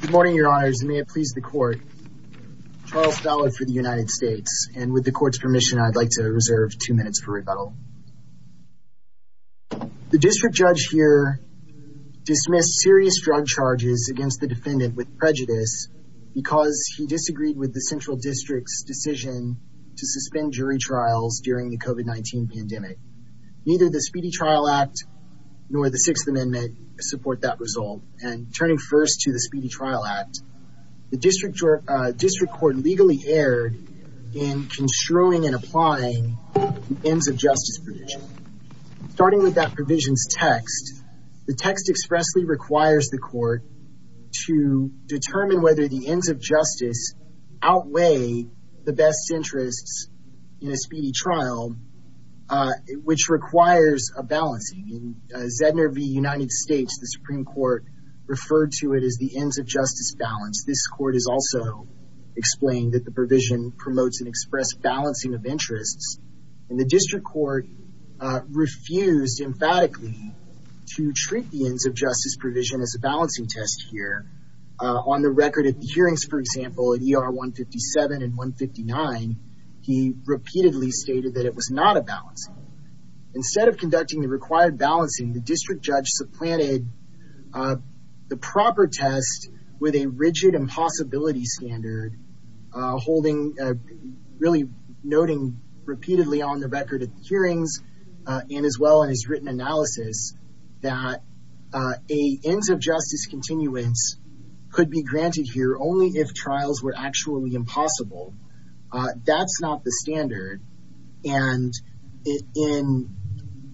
Good morning, your honors, and may it please the court. Charles Ballard for the United States, and with the court's permission, I'd like to reserve two minutes for rebuttal. The district judge here dismissed serious drug charges against the defendant with prejudice because he disagreed with the Central District's decision to suspend jury trials during the COVID-19 pandemic. Neither the Speedy Trial Act nor the Sixth Amendment support that result, and turning first to the Speedy Trial Act, the district court legally erred in construing and applying the ends of justice provision. Starting with that provision's text, the text expressly requires the court to determine whether the ends of justice outweigh the best interests in a speedy trial, which requires a balancing. In Zedner v. United States, the Supreme Court referred to it as the ends of justice balance. This court has also explained that the provision promotes an express balancing of interests, and the district court refused emphatically to treat the ends of justice provision as a balancing test here. On the record at the hearings, for example, at ER 157 and 159, he repeatedly stated that it was not a balancing. Instead of conducting the required balancing, the district judge supplanted the proper test with a rigid impossibility standard, really noting repeatedly on the record at the hearings and as well in his written analysis that a ends of justice continuance could be granted here only if trials were actually impossible. That's not the standard, and in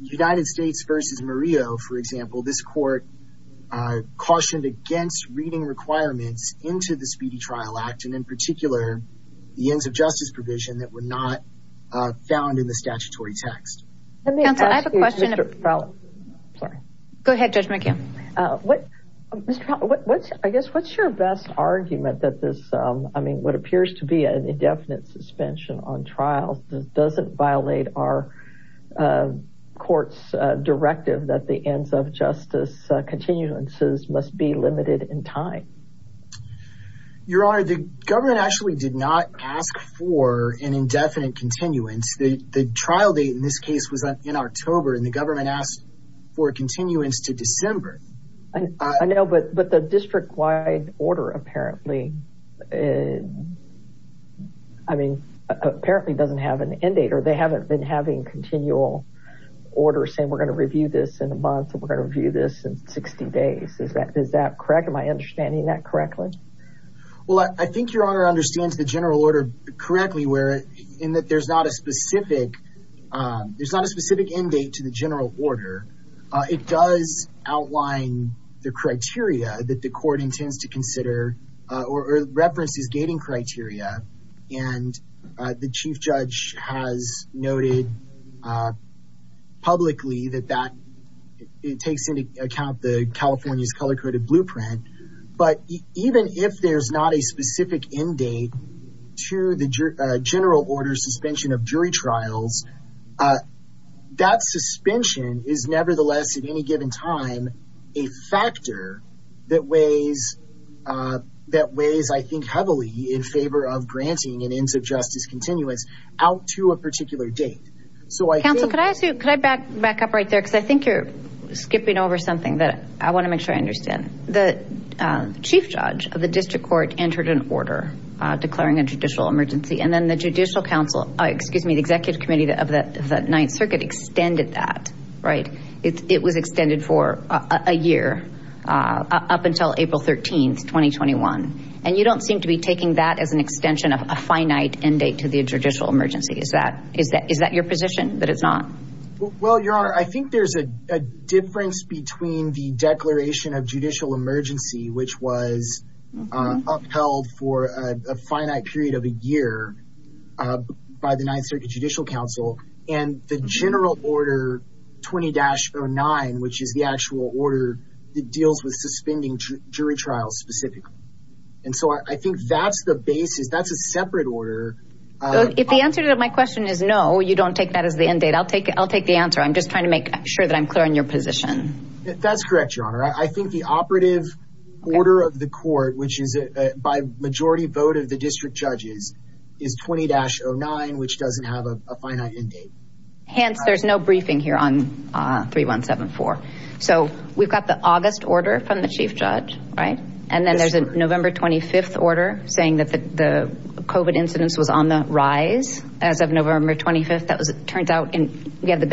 United States v. Murillo, for example, this court cautioned against reading requirements into the Speedy Trial Act, and in particular, the ends of justice provision that were not found in the statutory text. Counsel, I have a question. Go ahead, Judge McGill. I guess, what's your best argument that this, I mean, what appears to be an indefinite suspension on trials doesn't violate our court's directive that the ends of justice continuances must be limited in time? Your Honor, the government actually did not ask for an indefinite continuance. The trial date in this case was in October, and the government asked for a continuance to December. I know, but the district-wide order apparently, I mean, apparently doesn't have an end date, or they haven't been having continual orders saying, we're going to review this in a month, and we're going to review this in 60 days. Is that correct? Am I understanding that correctly? Well, I think Your Honor understands the general order correctly in that there's a specific, there's not a specific end date to the general order. It does outline the criteria that the court intends to consider, or references gating criteria, and the Chief Judge has noted publicly that that, it takes into account the California's color-coded blueprint, but even if there's not a specific end date to the general order suspension of jury trials, that suspension is nevertheless, at any given time, a factor that weighs, I think, heavily in favor of granting an ends of justice continuance out to a particular date. Counsel, could I ask you, could I back up right there, because I think you're Chief Judge of the District Court entered an order declaring a judicial emergency, and then the Judicial Council, excuse me, the Executive Committee of the Ninth Circuit extended that, right? It was extended for a year, up until April 13th, 2021, and you don't seem to be taking that as an extension of a finite end date to the judicial emergency. Is that your position, that it's not? Well, Your Honor, I think there's a difference between the declaration of judicial emergency, which was upheld for a finite period of a year by the Ninth Circuit Judicial Council, and the general order 20-09, which is the actual order that deals with suspending jury trials specifically, and so I think that's the basis, that's a separate order. If the answer to my question is no, you don't take that as the end date, I'll take the answer. I'm just trying to make sure that I'm clear on your position. That's correct, Your Honor. I think the operative order of the court, which is by majority vote of the district judges, is 20-09, which doesn't have a finite end date. Hence, there's no briefing here on 3174. So we've got the August order from the Chief Judge, right? And then there's a November 25th order saying that the the COVID incidence was on the rise as of November 25th. That was, it turns out, and we have the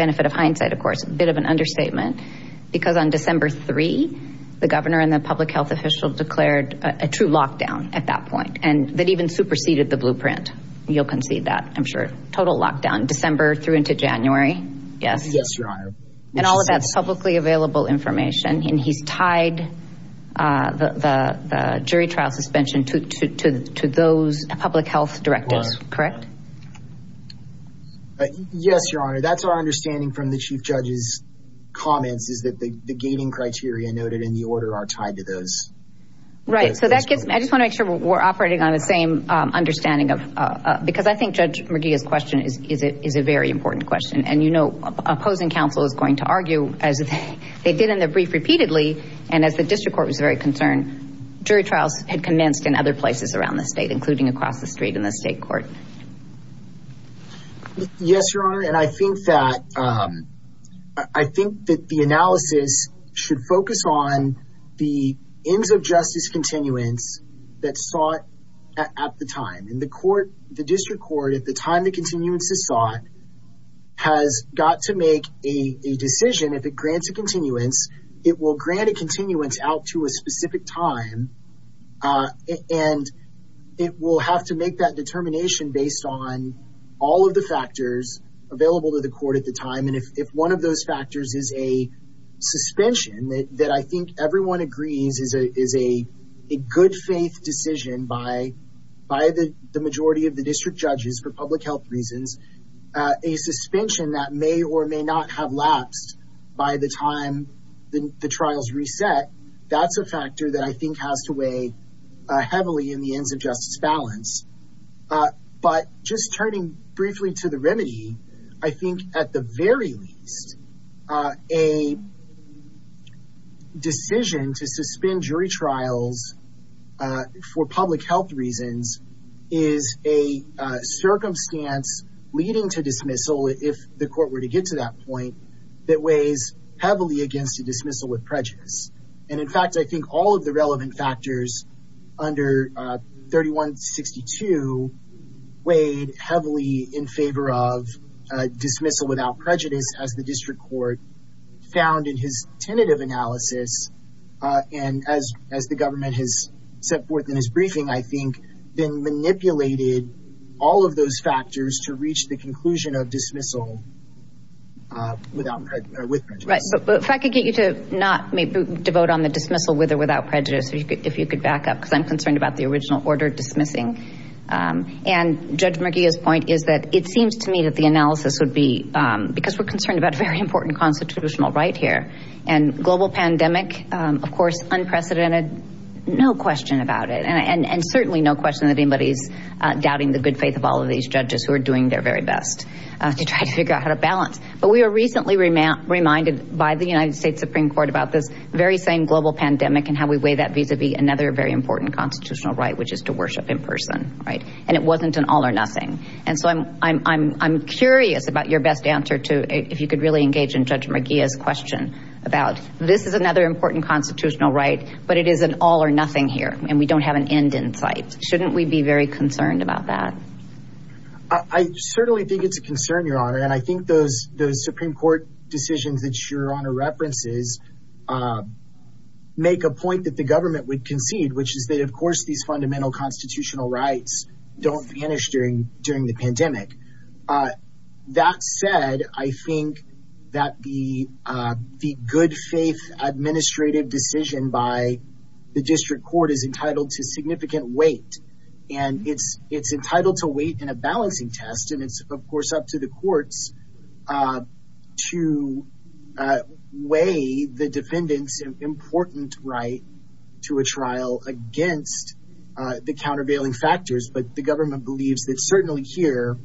governor and the public health official declared a true lockdown at that point, and that even superseded the blueprint. You'll concede that, I'm sure. Total lockdown, December through into January, yes? Yes, Your Honor. And all of that's publicly available information, and he's tied the jury trial suspension to those public health directives, correct? Yes, Your Honor. That's our understanding from the Chief Judge's comments, is that the gating criteria noted in the order are tied to those. Right, so I just want to make sure we're operating on the same understanding, because I think Judge McGee's question is a very important question. And you know, opposing counsel is going to argue, as they did in the brief repeatedly, and as the district court was very concerned, jury trials had commenced in other places around the state, including across the street in the state court. Yes, Your Honor, and I think that the analysis should focus on the ends of justice continuance that's sought at the time. And the court, the district court, at the time the continuance is sought, has got to make a decision if it grants a continuance, it will grant a continuance out to a specific time, and it will have to make that determination based on all of the factors available to the court at the time. And if one of those factors is a suspension that I think everyone agrees is a good faith decision by the majority of the district judges for public health reasons, a suspension that may or may not have lapsed by the time the trials reset, that's a factor that I think has to weigh heavily in the ends of justice balance. But just turning briefly to the remedy, I think at the very least a decision to suspend jury trials for public health reasons is a circumstance leading to dismissal, if the court were to get to that point, that weighs heavily against a dismissal with prejudice. And in fact, I think all of the relevant factors under 3162 weighed heavily in favor of dismissal without prejudice as the district court found in his tentative analysis. And as the government has set forth in his briefing, I think they manipulated all of those factors to reach the conclusion of dismissal with prejudice. Right. But if I could get you to not devote on the dismissal with or without prejudice, if you could back up, because I'm concerned about the original order dismissing. And Judge Murguia's point is that it seems to me that the analysis would be, because we're concerned about a very important constitutional right here and global pandemic, of course, unprecedented, no question about it. And certainly no question that anybody's doubting the good faith of all of these judges who are doing their very best to try to figure out how to balance. But we were recently reminded by the United States Supreme Court about this very same global pandemic and how we weigh that vis-a-vis another very important constitutional right, which is to worship in person. And it wasn't an all or nothing. And so I'm curious about your best answer to if you could really engage in Judge Murguia's question about this is another important constitutional right, but it is an all or nothing here and we don't have an end in sight. Shouldn't we be very concerned about that? I certainly think it's a concern, Your Honor. And I think those Supreme Court decisions that Your Honor references make a point that the government would concede, which is that, of course, these fundamental constitutional rights don't vanish during the pandemic. That said, I think that the good faith administrative decision by the district court is entitled to significant weight. And it's entitled to weight in a balancing test. And it's, of course, up to the courts to weigh the defendant's important right to a trial against the countervailing factors. But the government believes that certainly here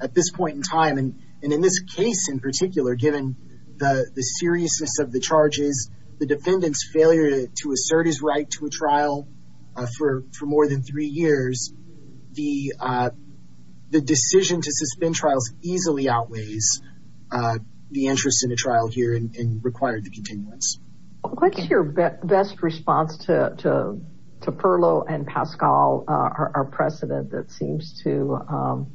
at this point in time, and in this case in particular, given the seriousness of the charges, the defendant's failure to assert his right to a case, the interest in a trial here required the continuance. What's your best response to Perlow and Pascal, our precedent that seems to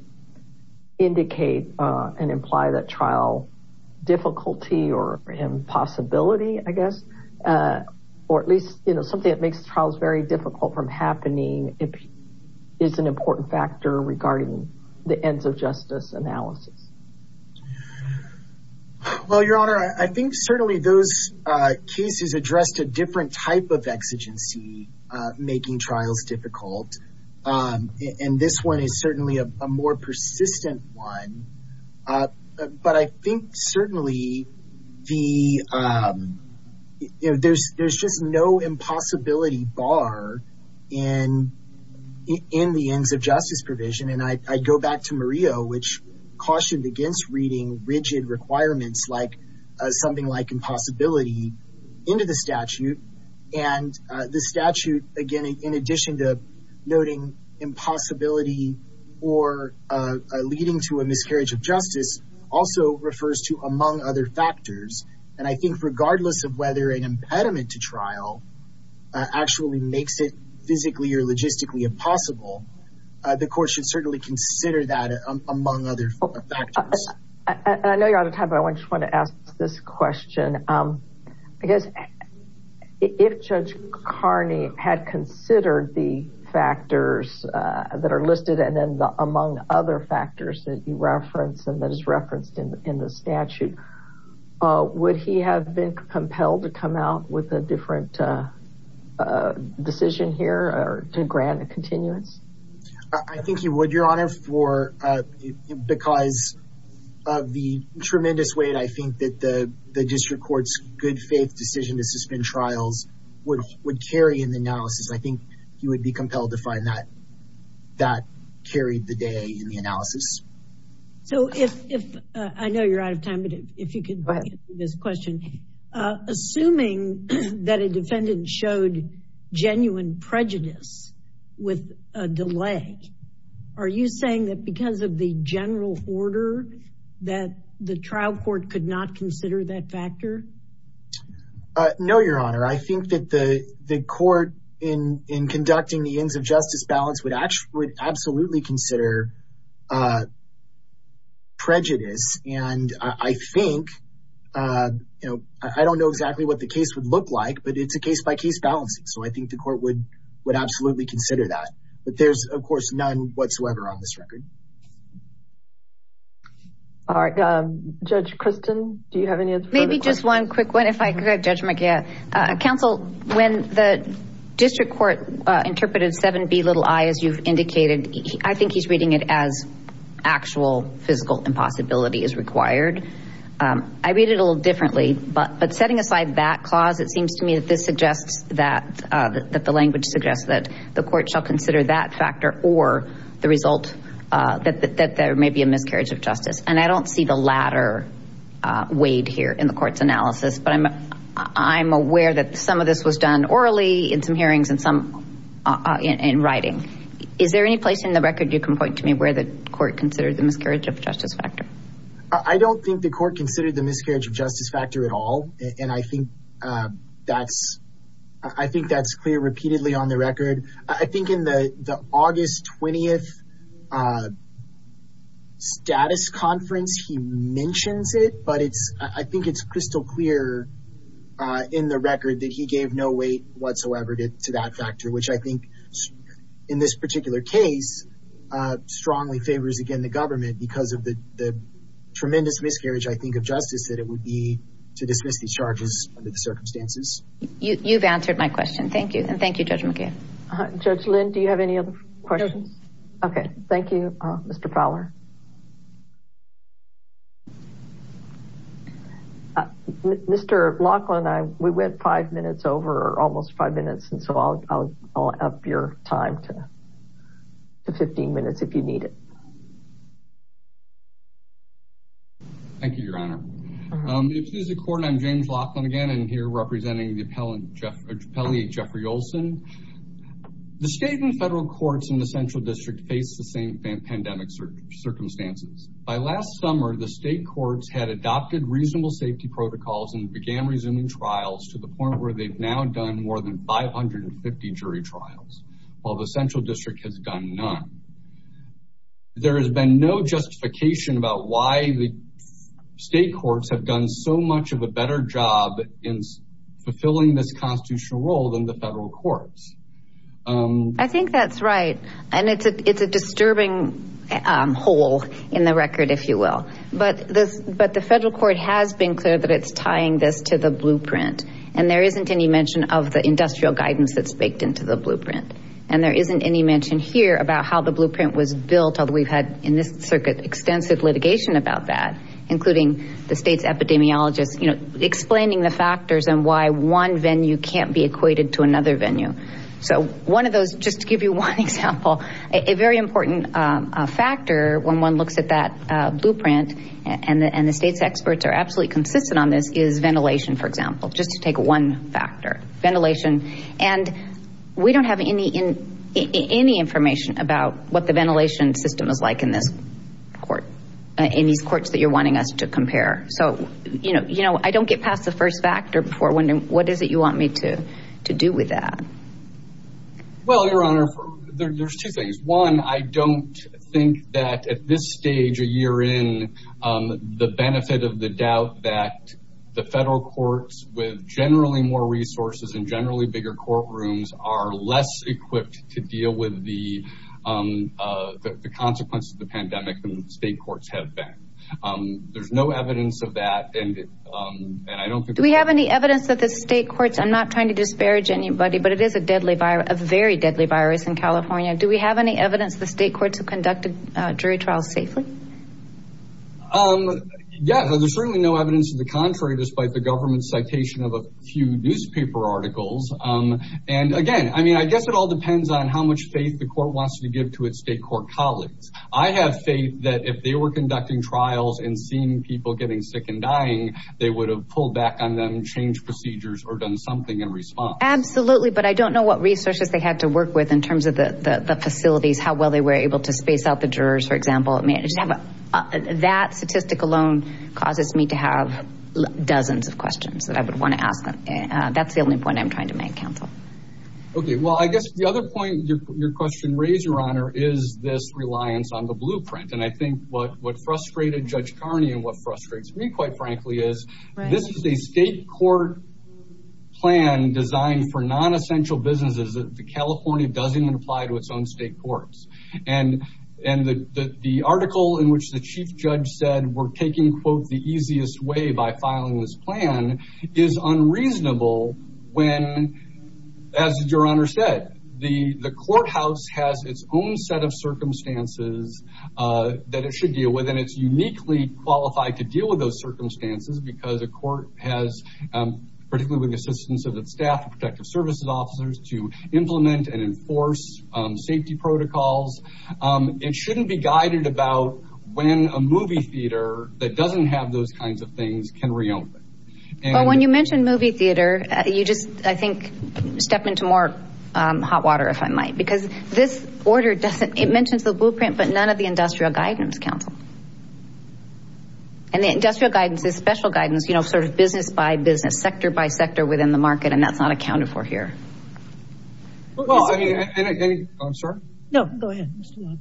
indicate and imply that trial difficulty or impossibility, I guess, or at least something that makes trials very difficult from happening is an important factor regarding the ends of justice analysis? Well, Your Honor, I think certainly those cases addressed a different type of exigency making trials difficult. And this one is certainly a more persistent one. But I think certainly there's just no impossibility bar in the ends of justice provision. And I go which cautioned against reading rigid requirements like something like impossibility into the statute. And the statute, again, in addition to noting impossibility or leading to a miscarriage of justice also refers to among other factors. And I think regardless of whether an impediment to trial actually makes it physically or logistically impossible, the court should certainly consider that among other factors. I know you're out of time, but I just want to ask this question. I guess if Judge Carney had considered the factors that are listed and then the among other factors that you reference and that is referenced in the statute, would he have been compelled to come out with a different decision here to grant a continuous? I think he would, Your Honor, because of the tremendous weight, I think, that the district court's good faith decision to suspend trials would carry in the analysis. I think he would be compelled to find that that carried the day in the analysis. So if I know you're out of time, but if you could this question, assuming that a defendant showed genuine prejudice with a delay, are you saying that because of the general order that the trial court could not consider that factor? No, Your Honor. I think that the court in conducting the ends of justice balance would absolutely consider prejudice. And I think, you know, I don't know exactly what the case would look like, but it's a case-by-case balancing. So I think the court would absolutely consider that. But there's, of course, none whatsoever on this record. All right. Judge Christin, do you have any other questions? Maybe just one quick one, if I could, Judge McKeon. Counsel, when the district court interpreted 7B, little i, as you've indicated, I think he's reading it as actual physical impossibility is required. I read it a little differently, but setting aside that clause, it seems to me that this suggests that the language suggests that the court shall consider that factor or the result that there may be a miscarriage of justice. And I don't see the latter weighed here in the court's analysis, but I'm aware that some of this was done orally in some hearings and some in writing. Is there any place in the record you can point to me where the court considered the miscarriage of justice factor? I don't think the court considered the miscarriage of justice factor at all, and I think that's clear repeatedly on the record. I think in the August 20th status conference, he mentions it, but I think it's crystal clear in the record that he gave no weight whatsoever to that factor, which I think in this particular case strongly favors, again, the government because of the tremendous miscarriage, I think, of justice that it would be to dismiss these charges under the circumstances. You've answered my question. Thank you, and thank you, Judge McGinn. Judge Lynn, do you have any other questions? Okay, thank you, Mr. Fowler. Mr. Laughlin, we went five minutes over, almost five minutes, and so I'll up your time to 15 minutes if you need it. Thank you, Your Honor. Excuse the court, I'm James Laughlin again, and here representing the appellate Jeffrey Olson. The state and federal courts in the central district face the same pandemic circumstances. By last summer, the state courts had adopted reasonable safety protocols and began resuming trials to the point where they've now done more than 550 jury trials, while the there has been no justification about why the state courts have done so much of a better job in fulfilling this constitutional role than the federal courts. I think that's right, and it's a disturbing hole in the record, if you will, but the federal court has been clear that it's tying this to the blueprint, and there isn't any mention of the industrial guidance that's baked into the blueprint, and there isn't any mention here about how the blueprint was built, although we've had in this circuit extensive litigation about that, including the state's epidemiologists explaining the factors and why one venue can't be equated to another venue. So one of those, just to give you one example, a very important factor when one looks at that blueprint, and the state's experts are absolutely consistent on this, is ventilation, for example, just to take one factor. Ventilation, and we don't have any information about what the ventilation system is like in this court, in these courts that you're wanting us to compare. So, you know, I don't get past the first factor before wondering, what is it you want me to do with that? Well, Your Honor, there's two things. One, I don't think that at this stage, a year in, the benefit of the doubt that the federal courts with generally more resources and generally bigger courtrooms are less equipped to deal with the consequences of the pandemic than the state courts have been. There's no evidence of that, and I don't think... Do we have any evidence that the state courts, I'm not trying to disparage anybody, but it is a deadly virus, a very deadly virus in Yeah, there's certainly no evidence to the contrary, despite the government's citation of a few newspaper articles. And again, I mean, I guess it all depends on how much faith the court wants to give to its state court colleagues. I have faith that if they were conducting trials and seeing people getting sick and dying, they would have pulled back on them, changed procedures, or done something in response. Absolutely, but I don't know what resources they had to work with in terms of the facilities, how well they were able to space out the jurors, for example, I mean, that statistic alone causes me to have dozens of questions that I would want to ask them. That's the only point I'm trying to make, counsel. Okay, well, I guess the other point your question raised, Your Honor, is this reliance on the blueprint. And I think what frustrated Judge Carney and what frustrates me, quite frankly, is this is a state court plan designed for non-essential businesses that the California doesn't even apply to its own state courts. And the article in which the chief judge said we're taking, quote, the easiest way by filing this plan is unreasonable when, as Your Honor said, the courthouse has its own set of circumstances that it should deal with, and it's uniquely qualified to deal with those circumstances because a court has, particularly with the assistance of its staff and protective services officers, to implement and enforce safety protocols. It shouldn't be guided about when a movie theater that doesn't have those kinds of things can reopen. But when you mention movie theater, you just, I think, step into more hot water, if I might, because this order doesn't, it mentions the blueprint, but none of the industrial guidance, counsel. And the industrial guidance is special guidance, you know, sort of business by business, sector by sector. Well, I mean, I'm sorry. No, go ahead.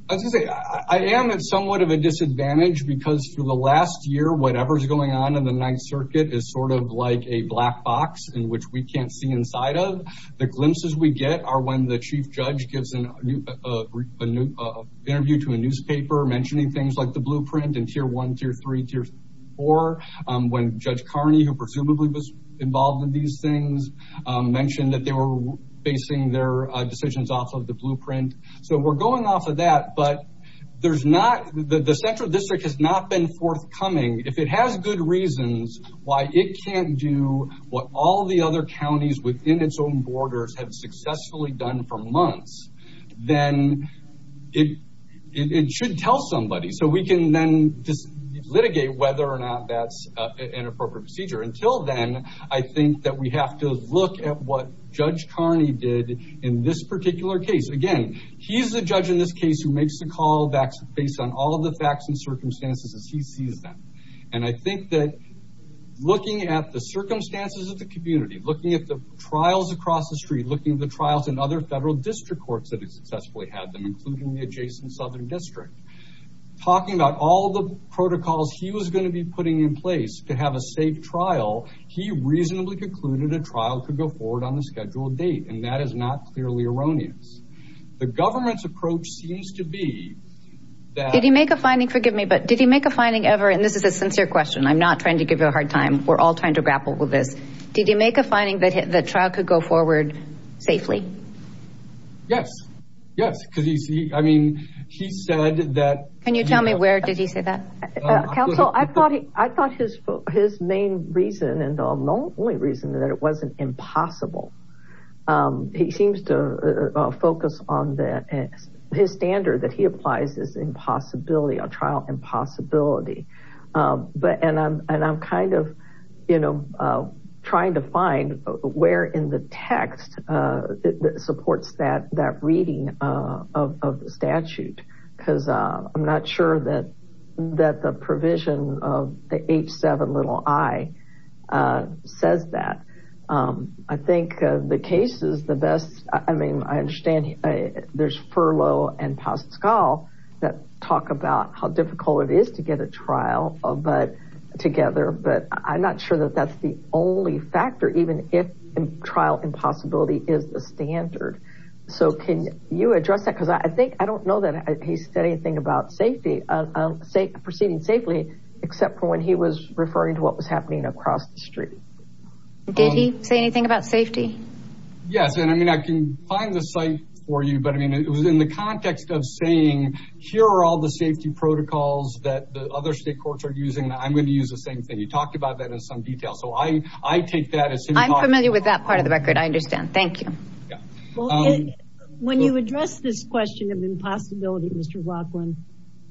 I was gonna say, I am at somewhat of a disadvantage because for the last year, whatever's going on in the Ninth Circuit is sort of like a black box in which we can't see inside of. The glimpses we get are when the chief judge gives an interview to a newspaper mentioning things like the blueprint and tier one, tier three, tier four, when Judge basing their decisions off of the blueprint. So we're going off of that, but there's not, the central district has not been forthcoming. If it has good reasons why it can't do what all the other counties within its own borders have successfully done for months, then it should tell somebody. So we can then just litigate whether or not that's an appropriate procedure. Until then, I think that we have to look at what Judge Carney did in this particular case. Again, he's the judge in this case who makes the call based on all the facts and circumstances as he sees them. And I think that looking at the circumstances of the community, looking at the trials across the street, looking at the trials in other federal district courts that have successfully had them, including the adjacent Southern District, talking about all the protocols he was going to be putting in place to have a safe trial, he reasonably concluded a trial could go forward on the scheduled date. And that is not clearly erroneous. The government's approach seems to be that... Did he make a finding, forgive me, but did he make a finding ever, and this is a sincere question, I'm not trying to give you a hard time. We're all trying to grapple with this. Did he make a finding that the trial could go forward safely? Yes. Yes. Because you see, I mean, he said that... Can you tell me where did he say that? Counsel, I thought his main reason and the only reason that it wasn't impossible, he seems to focus on that. His standard that he applies is impossibility, a trial impossibility. And I'm kind of trying to find where in the text supports that reading of the statute, because I'm not sure that the provision of the H7 little i says that. I think the case is the best, I mean, I understand there's furlough and Pascal that talk about how difficult it is to get a trial together, but I'm not sure that that's the only factor, even if trial impossibility is the steady thing about safety, safe, proceeding safely, except for when he was referring to what was happening across the street. Did he say anything about safety? Yes. And I mean, I can find the site for you, but I mean, it was in the context of saying, here are all the safety protocols that the other state courts are using, I'm going to use the same thing. You talked about that in some detail. So I, I take that as... I'm familiar with that part of the record. I understand. Thank you. Well, when you address this question of impossibility, Mr. Laughlin,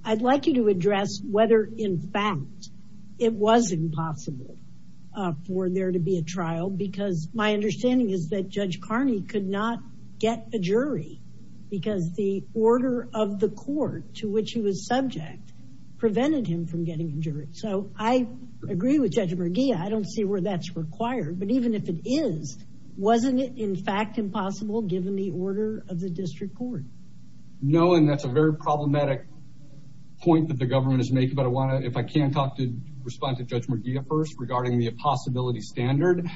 I'd like you to address whether in fact it was impossible for there to be a trial, because my understanding is that Judge Carney could not get a jury because the order of the court to which he was subject prevented him from getting a jury. So I agree with Judge Merguia. I don't see where that's required, but even if it is, wasn't it in fact impossible given the order of the district court? No, and that's a very problematic point that the government is making, but I want to, if I can talk to, respond to Judge Merguia first regarding the impossibility standard.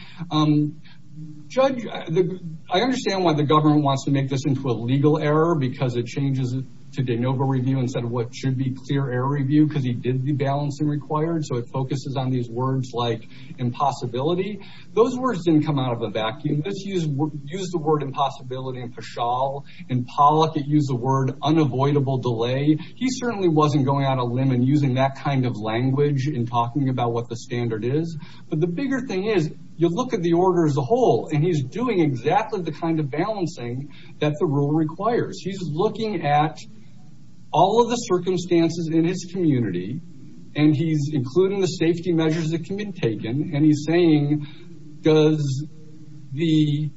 Judge, I understand why the government wants to make this into a legal error because it changes to de novo review instead of what should be clear error review, because he did the balancing required, so it focuses on these words like impossibility. Those words didn't come out of a vacuum. This used the word impossibility and paschal, and Pollock used the word unavoidable delay. He certainly wasn't going out on a limb and using that kind of language in talking about what the standard is, but the bigger thing is you look at the order as a whole, and he's doing exactly the kind of balancing that the rule requires. He's looking at all of the circumstances in his community, and he's including the safety measures that can be taken, and he's saying, does the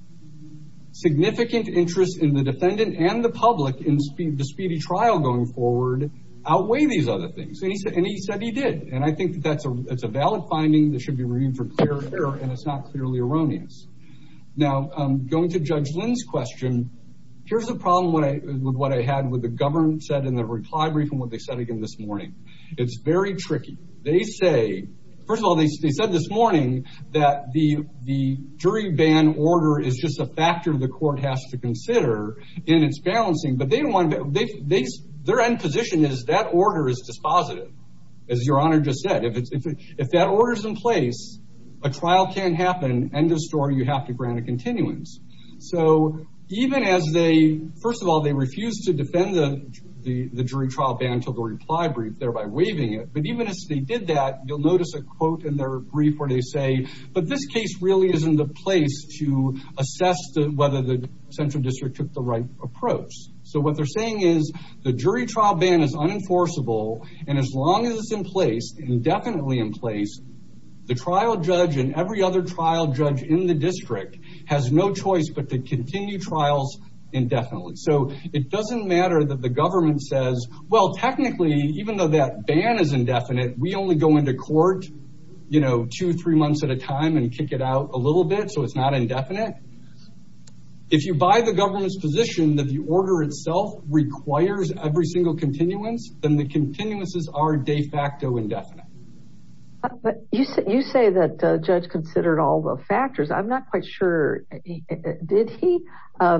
significant interest in the defendant and the public in the speedy trial going forward outweigh these other things? And he said he did, and I think that's a valid finding that should be reviewed for clear error, and it's not clearly erroneous. Now, going to Judge Lynn's question, here's the problem with what I had with the government said in the reclai brief and what they said again this morning. It's very tricky. They say, first of all, they said this morning that the jury ban order is just a factor the court has to consider in its balancing, but their end position is that order is dispositive, as Your Honor just said. If that order's in place, a trial can't happen, end of story, you have to grant a continuance. So even as they, first of all, they refused to defend the jury trial ban to the reply brief, thereby waiving it, but even as they did that, you'll notice a quote in their brief where they say, but this case really isn't the place to assess whether the central district took the right approach. So what they're saying is the jury trial ban is unenforceable, and as long as it's in place, indefinitely in place, the trial judge and every other trial judge in the district has no choice but to continue trials indefinitely. So it doesn't matter that the government says, well, technically, even though that ban is indefinite, we only go into court, you know, two, three months at a time and kick it out a little bit, so it's not indefinite. If you buy the government's position that the order itself requires every single continuance, then the continuances are de facto indefinite. But you said you say that the judge considered all the factors. I'm not quite sure did he?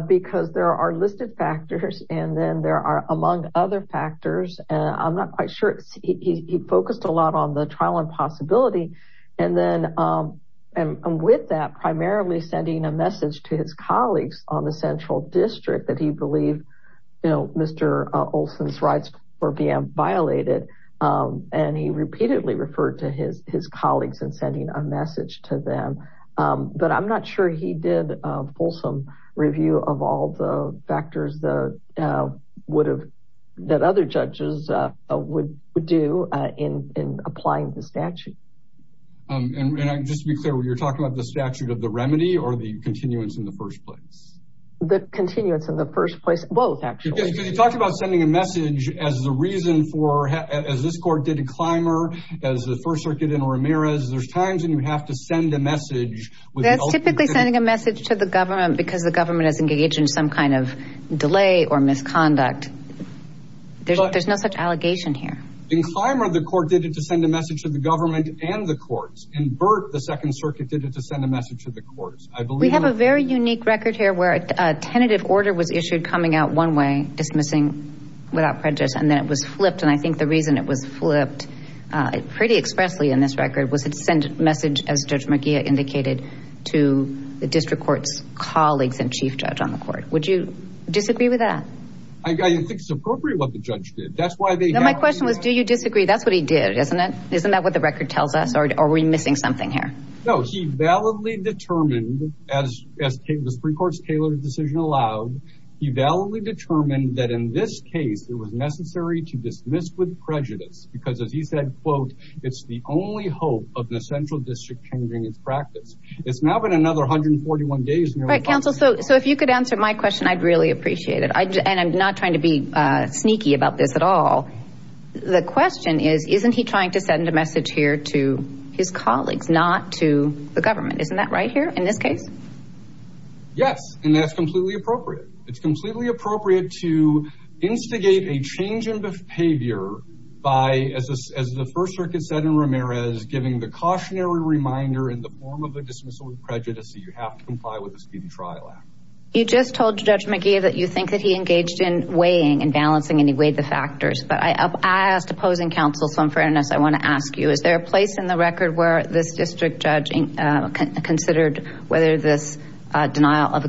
Because there are listed factors, and then there are among other factors, and I'm not quite sure. He focused a lot on the trial and possibility, and then, and with that, primarily sending a message to his colleagues on the central district that he believed, you know, Mr. Olson's rights were being violated, and he repeatedly referred to his fulsome review of all the factors that other judges would do in applying the statute. And just to be clear, you're talking about the statute of the remedy or the continuance in the first place? The continuance in the first place, both actually. Because you talked about sending a message as the reason for, as this court did in Clymer, as the First Circuit in Ramirez, there's times when you have to send a message. That's typically sending a message to the government because the government is engaged in some kind of delay or misconduct. There's no such allegation here. In Clymer, the court did it to send a message to the government and the courts. In Burt, the Second Circuit did it to send a message to the courts. We have a very unique record here where a tentative order was issued coming out one way, dismissing without prejudice, and then it was flipped. And I think the reason it was flipped pretty expressly in this record was it sent a message, as Judge McGeough indicated, to the district court's colleagues and chief judge on the court. Would you disagree with that? I think it's appropriate what the judge did. That's why they have... No, my question was, do you disagree? That's what he did, isn't it? Isn't that what the record tells us? Or are we missing something here? No, he validly determined, as the Supreme Court's tailored decision allowed, he validly determined that in this case, it was necessary to dismiss with prejudice. Because as he said, quote, it's the only hope of the central district changing its practice. It's now been another 141 days. Right, counsel. So if you could answer my question, I'd really appreciate it. And I'm not trying to be sneaky about this at all. The question is, isn't he trying to send a message here to his colleagues, not to the government? Isn't that right here in this case? Yes, and that's completely appropriate. It's completely appropriate to instigate a change in behavior by, as the First Circuit said in Ramirez, giving the cautionary reminder in the form of a dismissal with prejudice that you have to comply with the speeding trial act. You just told Judge McGee that you think that he engaged in weighing and balancing, and he weighed the factors. But I asked opposing counsel, so in fairness, I want to ask you, is there a place in the record where this district judge considered whether this denial of a I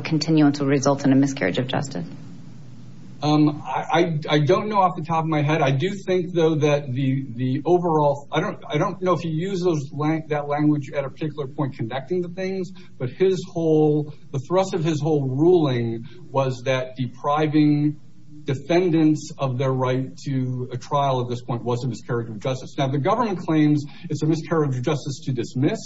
do think, though, that the overall, I don't know if he used that language at a particular point conducting the things, but the thrust of his whole ruling was that depriving defendants of their right to a trial at this point was a miscarriage of justice. Now, the government claims it's a miscarriage of justice to dismiss.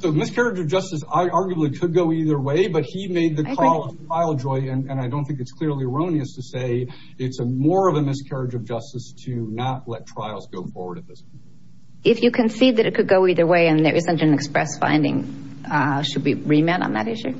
So miscarriage of justice arguably could go either way, but he made the call of trial, Joy, and I don't think it's clearly erroneous to say it's more of a miscarriage of justice to not let trials go forward at this point. If you concede that it could go either way and there isn't an express finding, should we remand on that issue?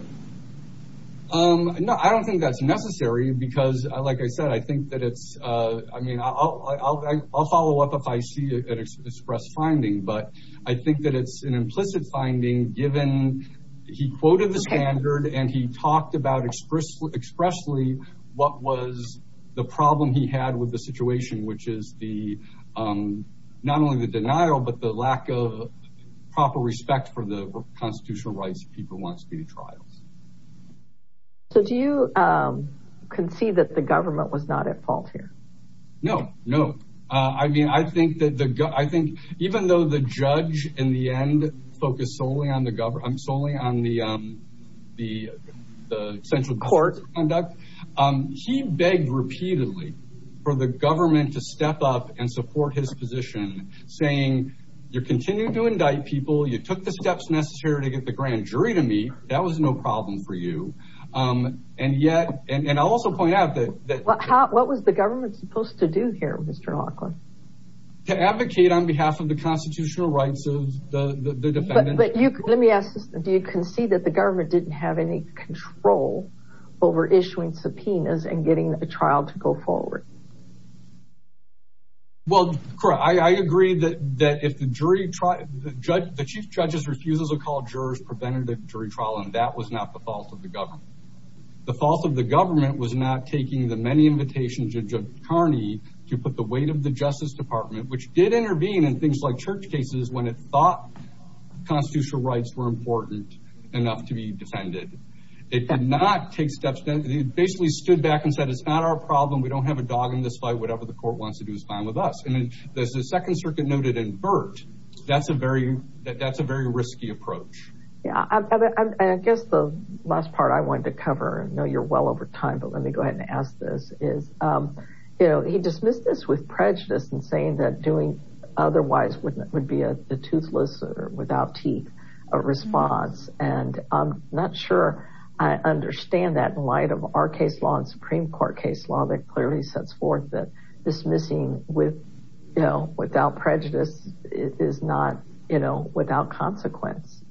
No, I don't think that's necessary because, like I said, I think that it's, I mean, I'll follow up if I see an express finding, but I think that it's an implicit finding given he quoted the standard and he talked about expressly what was the problem he had with the situation, which is the, not only the denial, but the lack of proper respect for the constitutional rights of people who want to be in trials. So do you concede that the government was not at fault here? No, no. I mean, I think that the, I think even though the judge in the end focused solely on the central court conduct, he begged repeatedly for the government to step up and support his position saying, you're continuing to indict people. You took the steps necessary to get the grand jury to meet. That was no problem for you. And yet, and I'll also point out that. What was the government supposed to do here, Mr. Lockwood? To advocate on behalf of the constitutional rights of the defendant. Let me ask this. Do you concede that the government didn't have any control over issuing subpoenas and getting a trial to go forward? Well, Cora, I agree that, that if the jury trial, the judge, the chief judges refuses to call jurors preventative jury trial. And that was not the fault of the government. The fault of the government was not taking the many invitations of Kearney to put the weight of the justice department, which did intervene in things like church cases when it thought constitutional rights were important enough to be defended. It did not take steps. It basically stood back and said, it's not our problem. We don't have a dog in this fight. Whatever the court wants to do is fine with us. And then there's the second circuit noted in Burt. That's a very, that's a very risky approach. Yeah. I guess the last part I wanted to cover, I know you're well over time, but let me go ahead and ask this is, um, you know, he dismissed this with prejudice and saying that doing otherwise wouldn't, it would be a toothless or without teeth, a response. And I'm not sure I understand that in light of our case law and Supreme court case law that clearly sets forth that dismissing with, you know, without prejudice is not, you know, without consequence.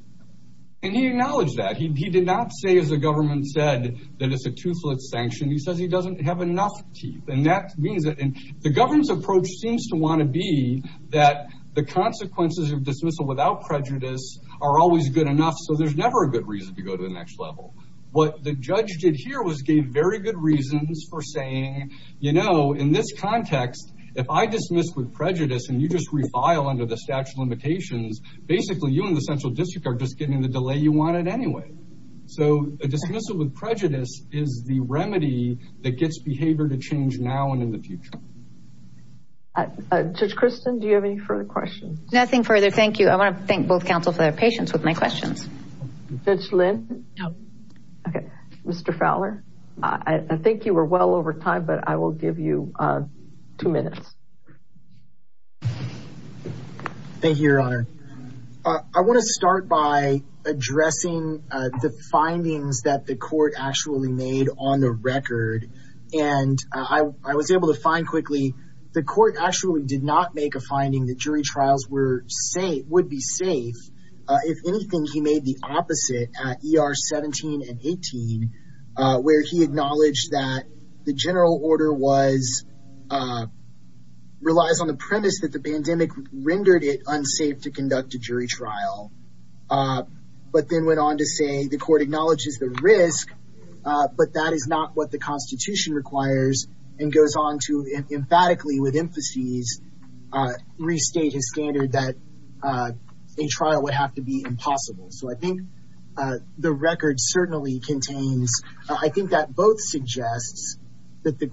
And he acknowledged that he did not say as a government said that it's a toothless sanction. He says he doesn't have enough teeth. And that means that the governance approach seems to want to be that the consequences of dismissal without prejudice are always good enough. So there's never a good reason to go to the next level. What the judge did here was gave very good reasons for saying, you know, in this context, if I dismissed with prejudice and you just refile under the statute of limitations, basically you and the central district are just getting the delay you anyway. So a dismissal with prejudice is the remedy that gets behavior to change now and in the future. Judge Kristen, do you have any further questions? Nothing further. Thank you. I want to thank both counsel for their patience with my questions. Judge Lynn. Okay. Mr. Fowler, I think you were well over time, but I will give you two minutes. Thank you, your honor. I want to start by addressing the findings that the court actually made on the record. And I was able to find quickly the court actually did not make a finding that jury trials were safe, would be safe. If anything, he made the opposite at ER 17 and 18 where he acknowledged that the general order was relies on the premise that the pandemic rendered it unsafe to conduct a jury trial. But then went on to say the court acknowledges the risk, but that is not what the constitution requires and goes on to emphatically with emphases restate his standard that a trial would have to be impossible. So I think the record certainly contains, I think that both suggests that the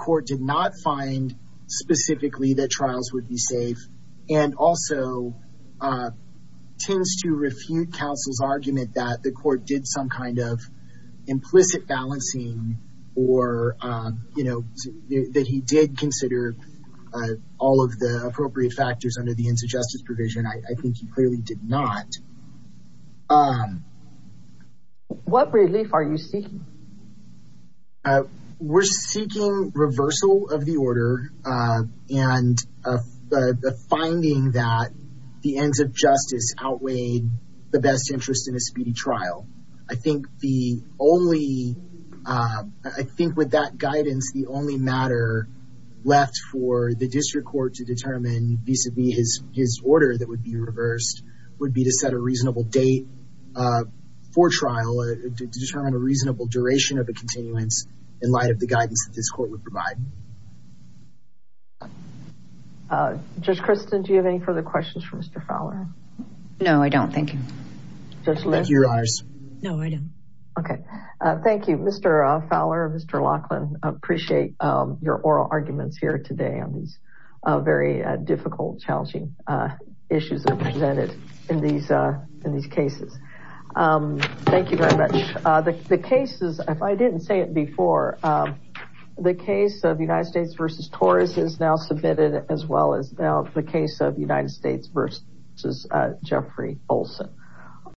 the court did some kind of implicit balancing or that he did consider all of the appropriate factors under the ends of justice provision. I think he clearly did not. What relief are you seeking? We're seeking reversal of the order and the finding that the ends of justice outweigh the best interest in a speedy trial. I think the only, I think with that guidance, the only matter left for the district court to determine vis-a-vis his order that would be reversed would be to set a reasonable date for trial to determine a reasonable duration of a continuance in light of the guidance that this court would provide. Judge Kristin, do you have any further questions for Mr. Fowler? No, I don't. Thank you. Judge Litt, no, I don't. Okay. Thank you, Mr. Fowler, Mr. Lachlan. I appreciate your oral arguments here today on these very difficult, challenging issues that are presented in these in these cases. Thank you very much. The cases, if I didn't say it before, the case of the United States v. Torres is now submitted as well as the case of United States v. Jeffrey Olson.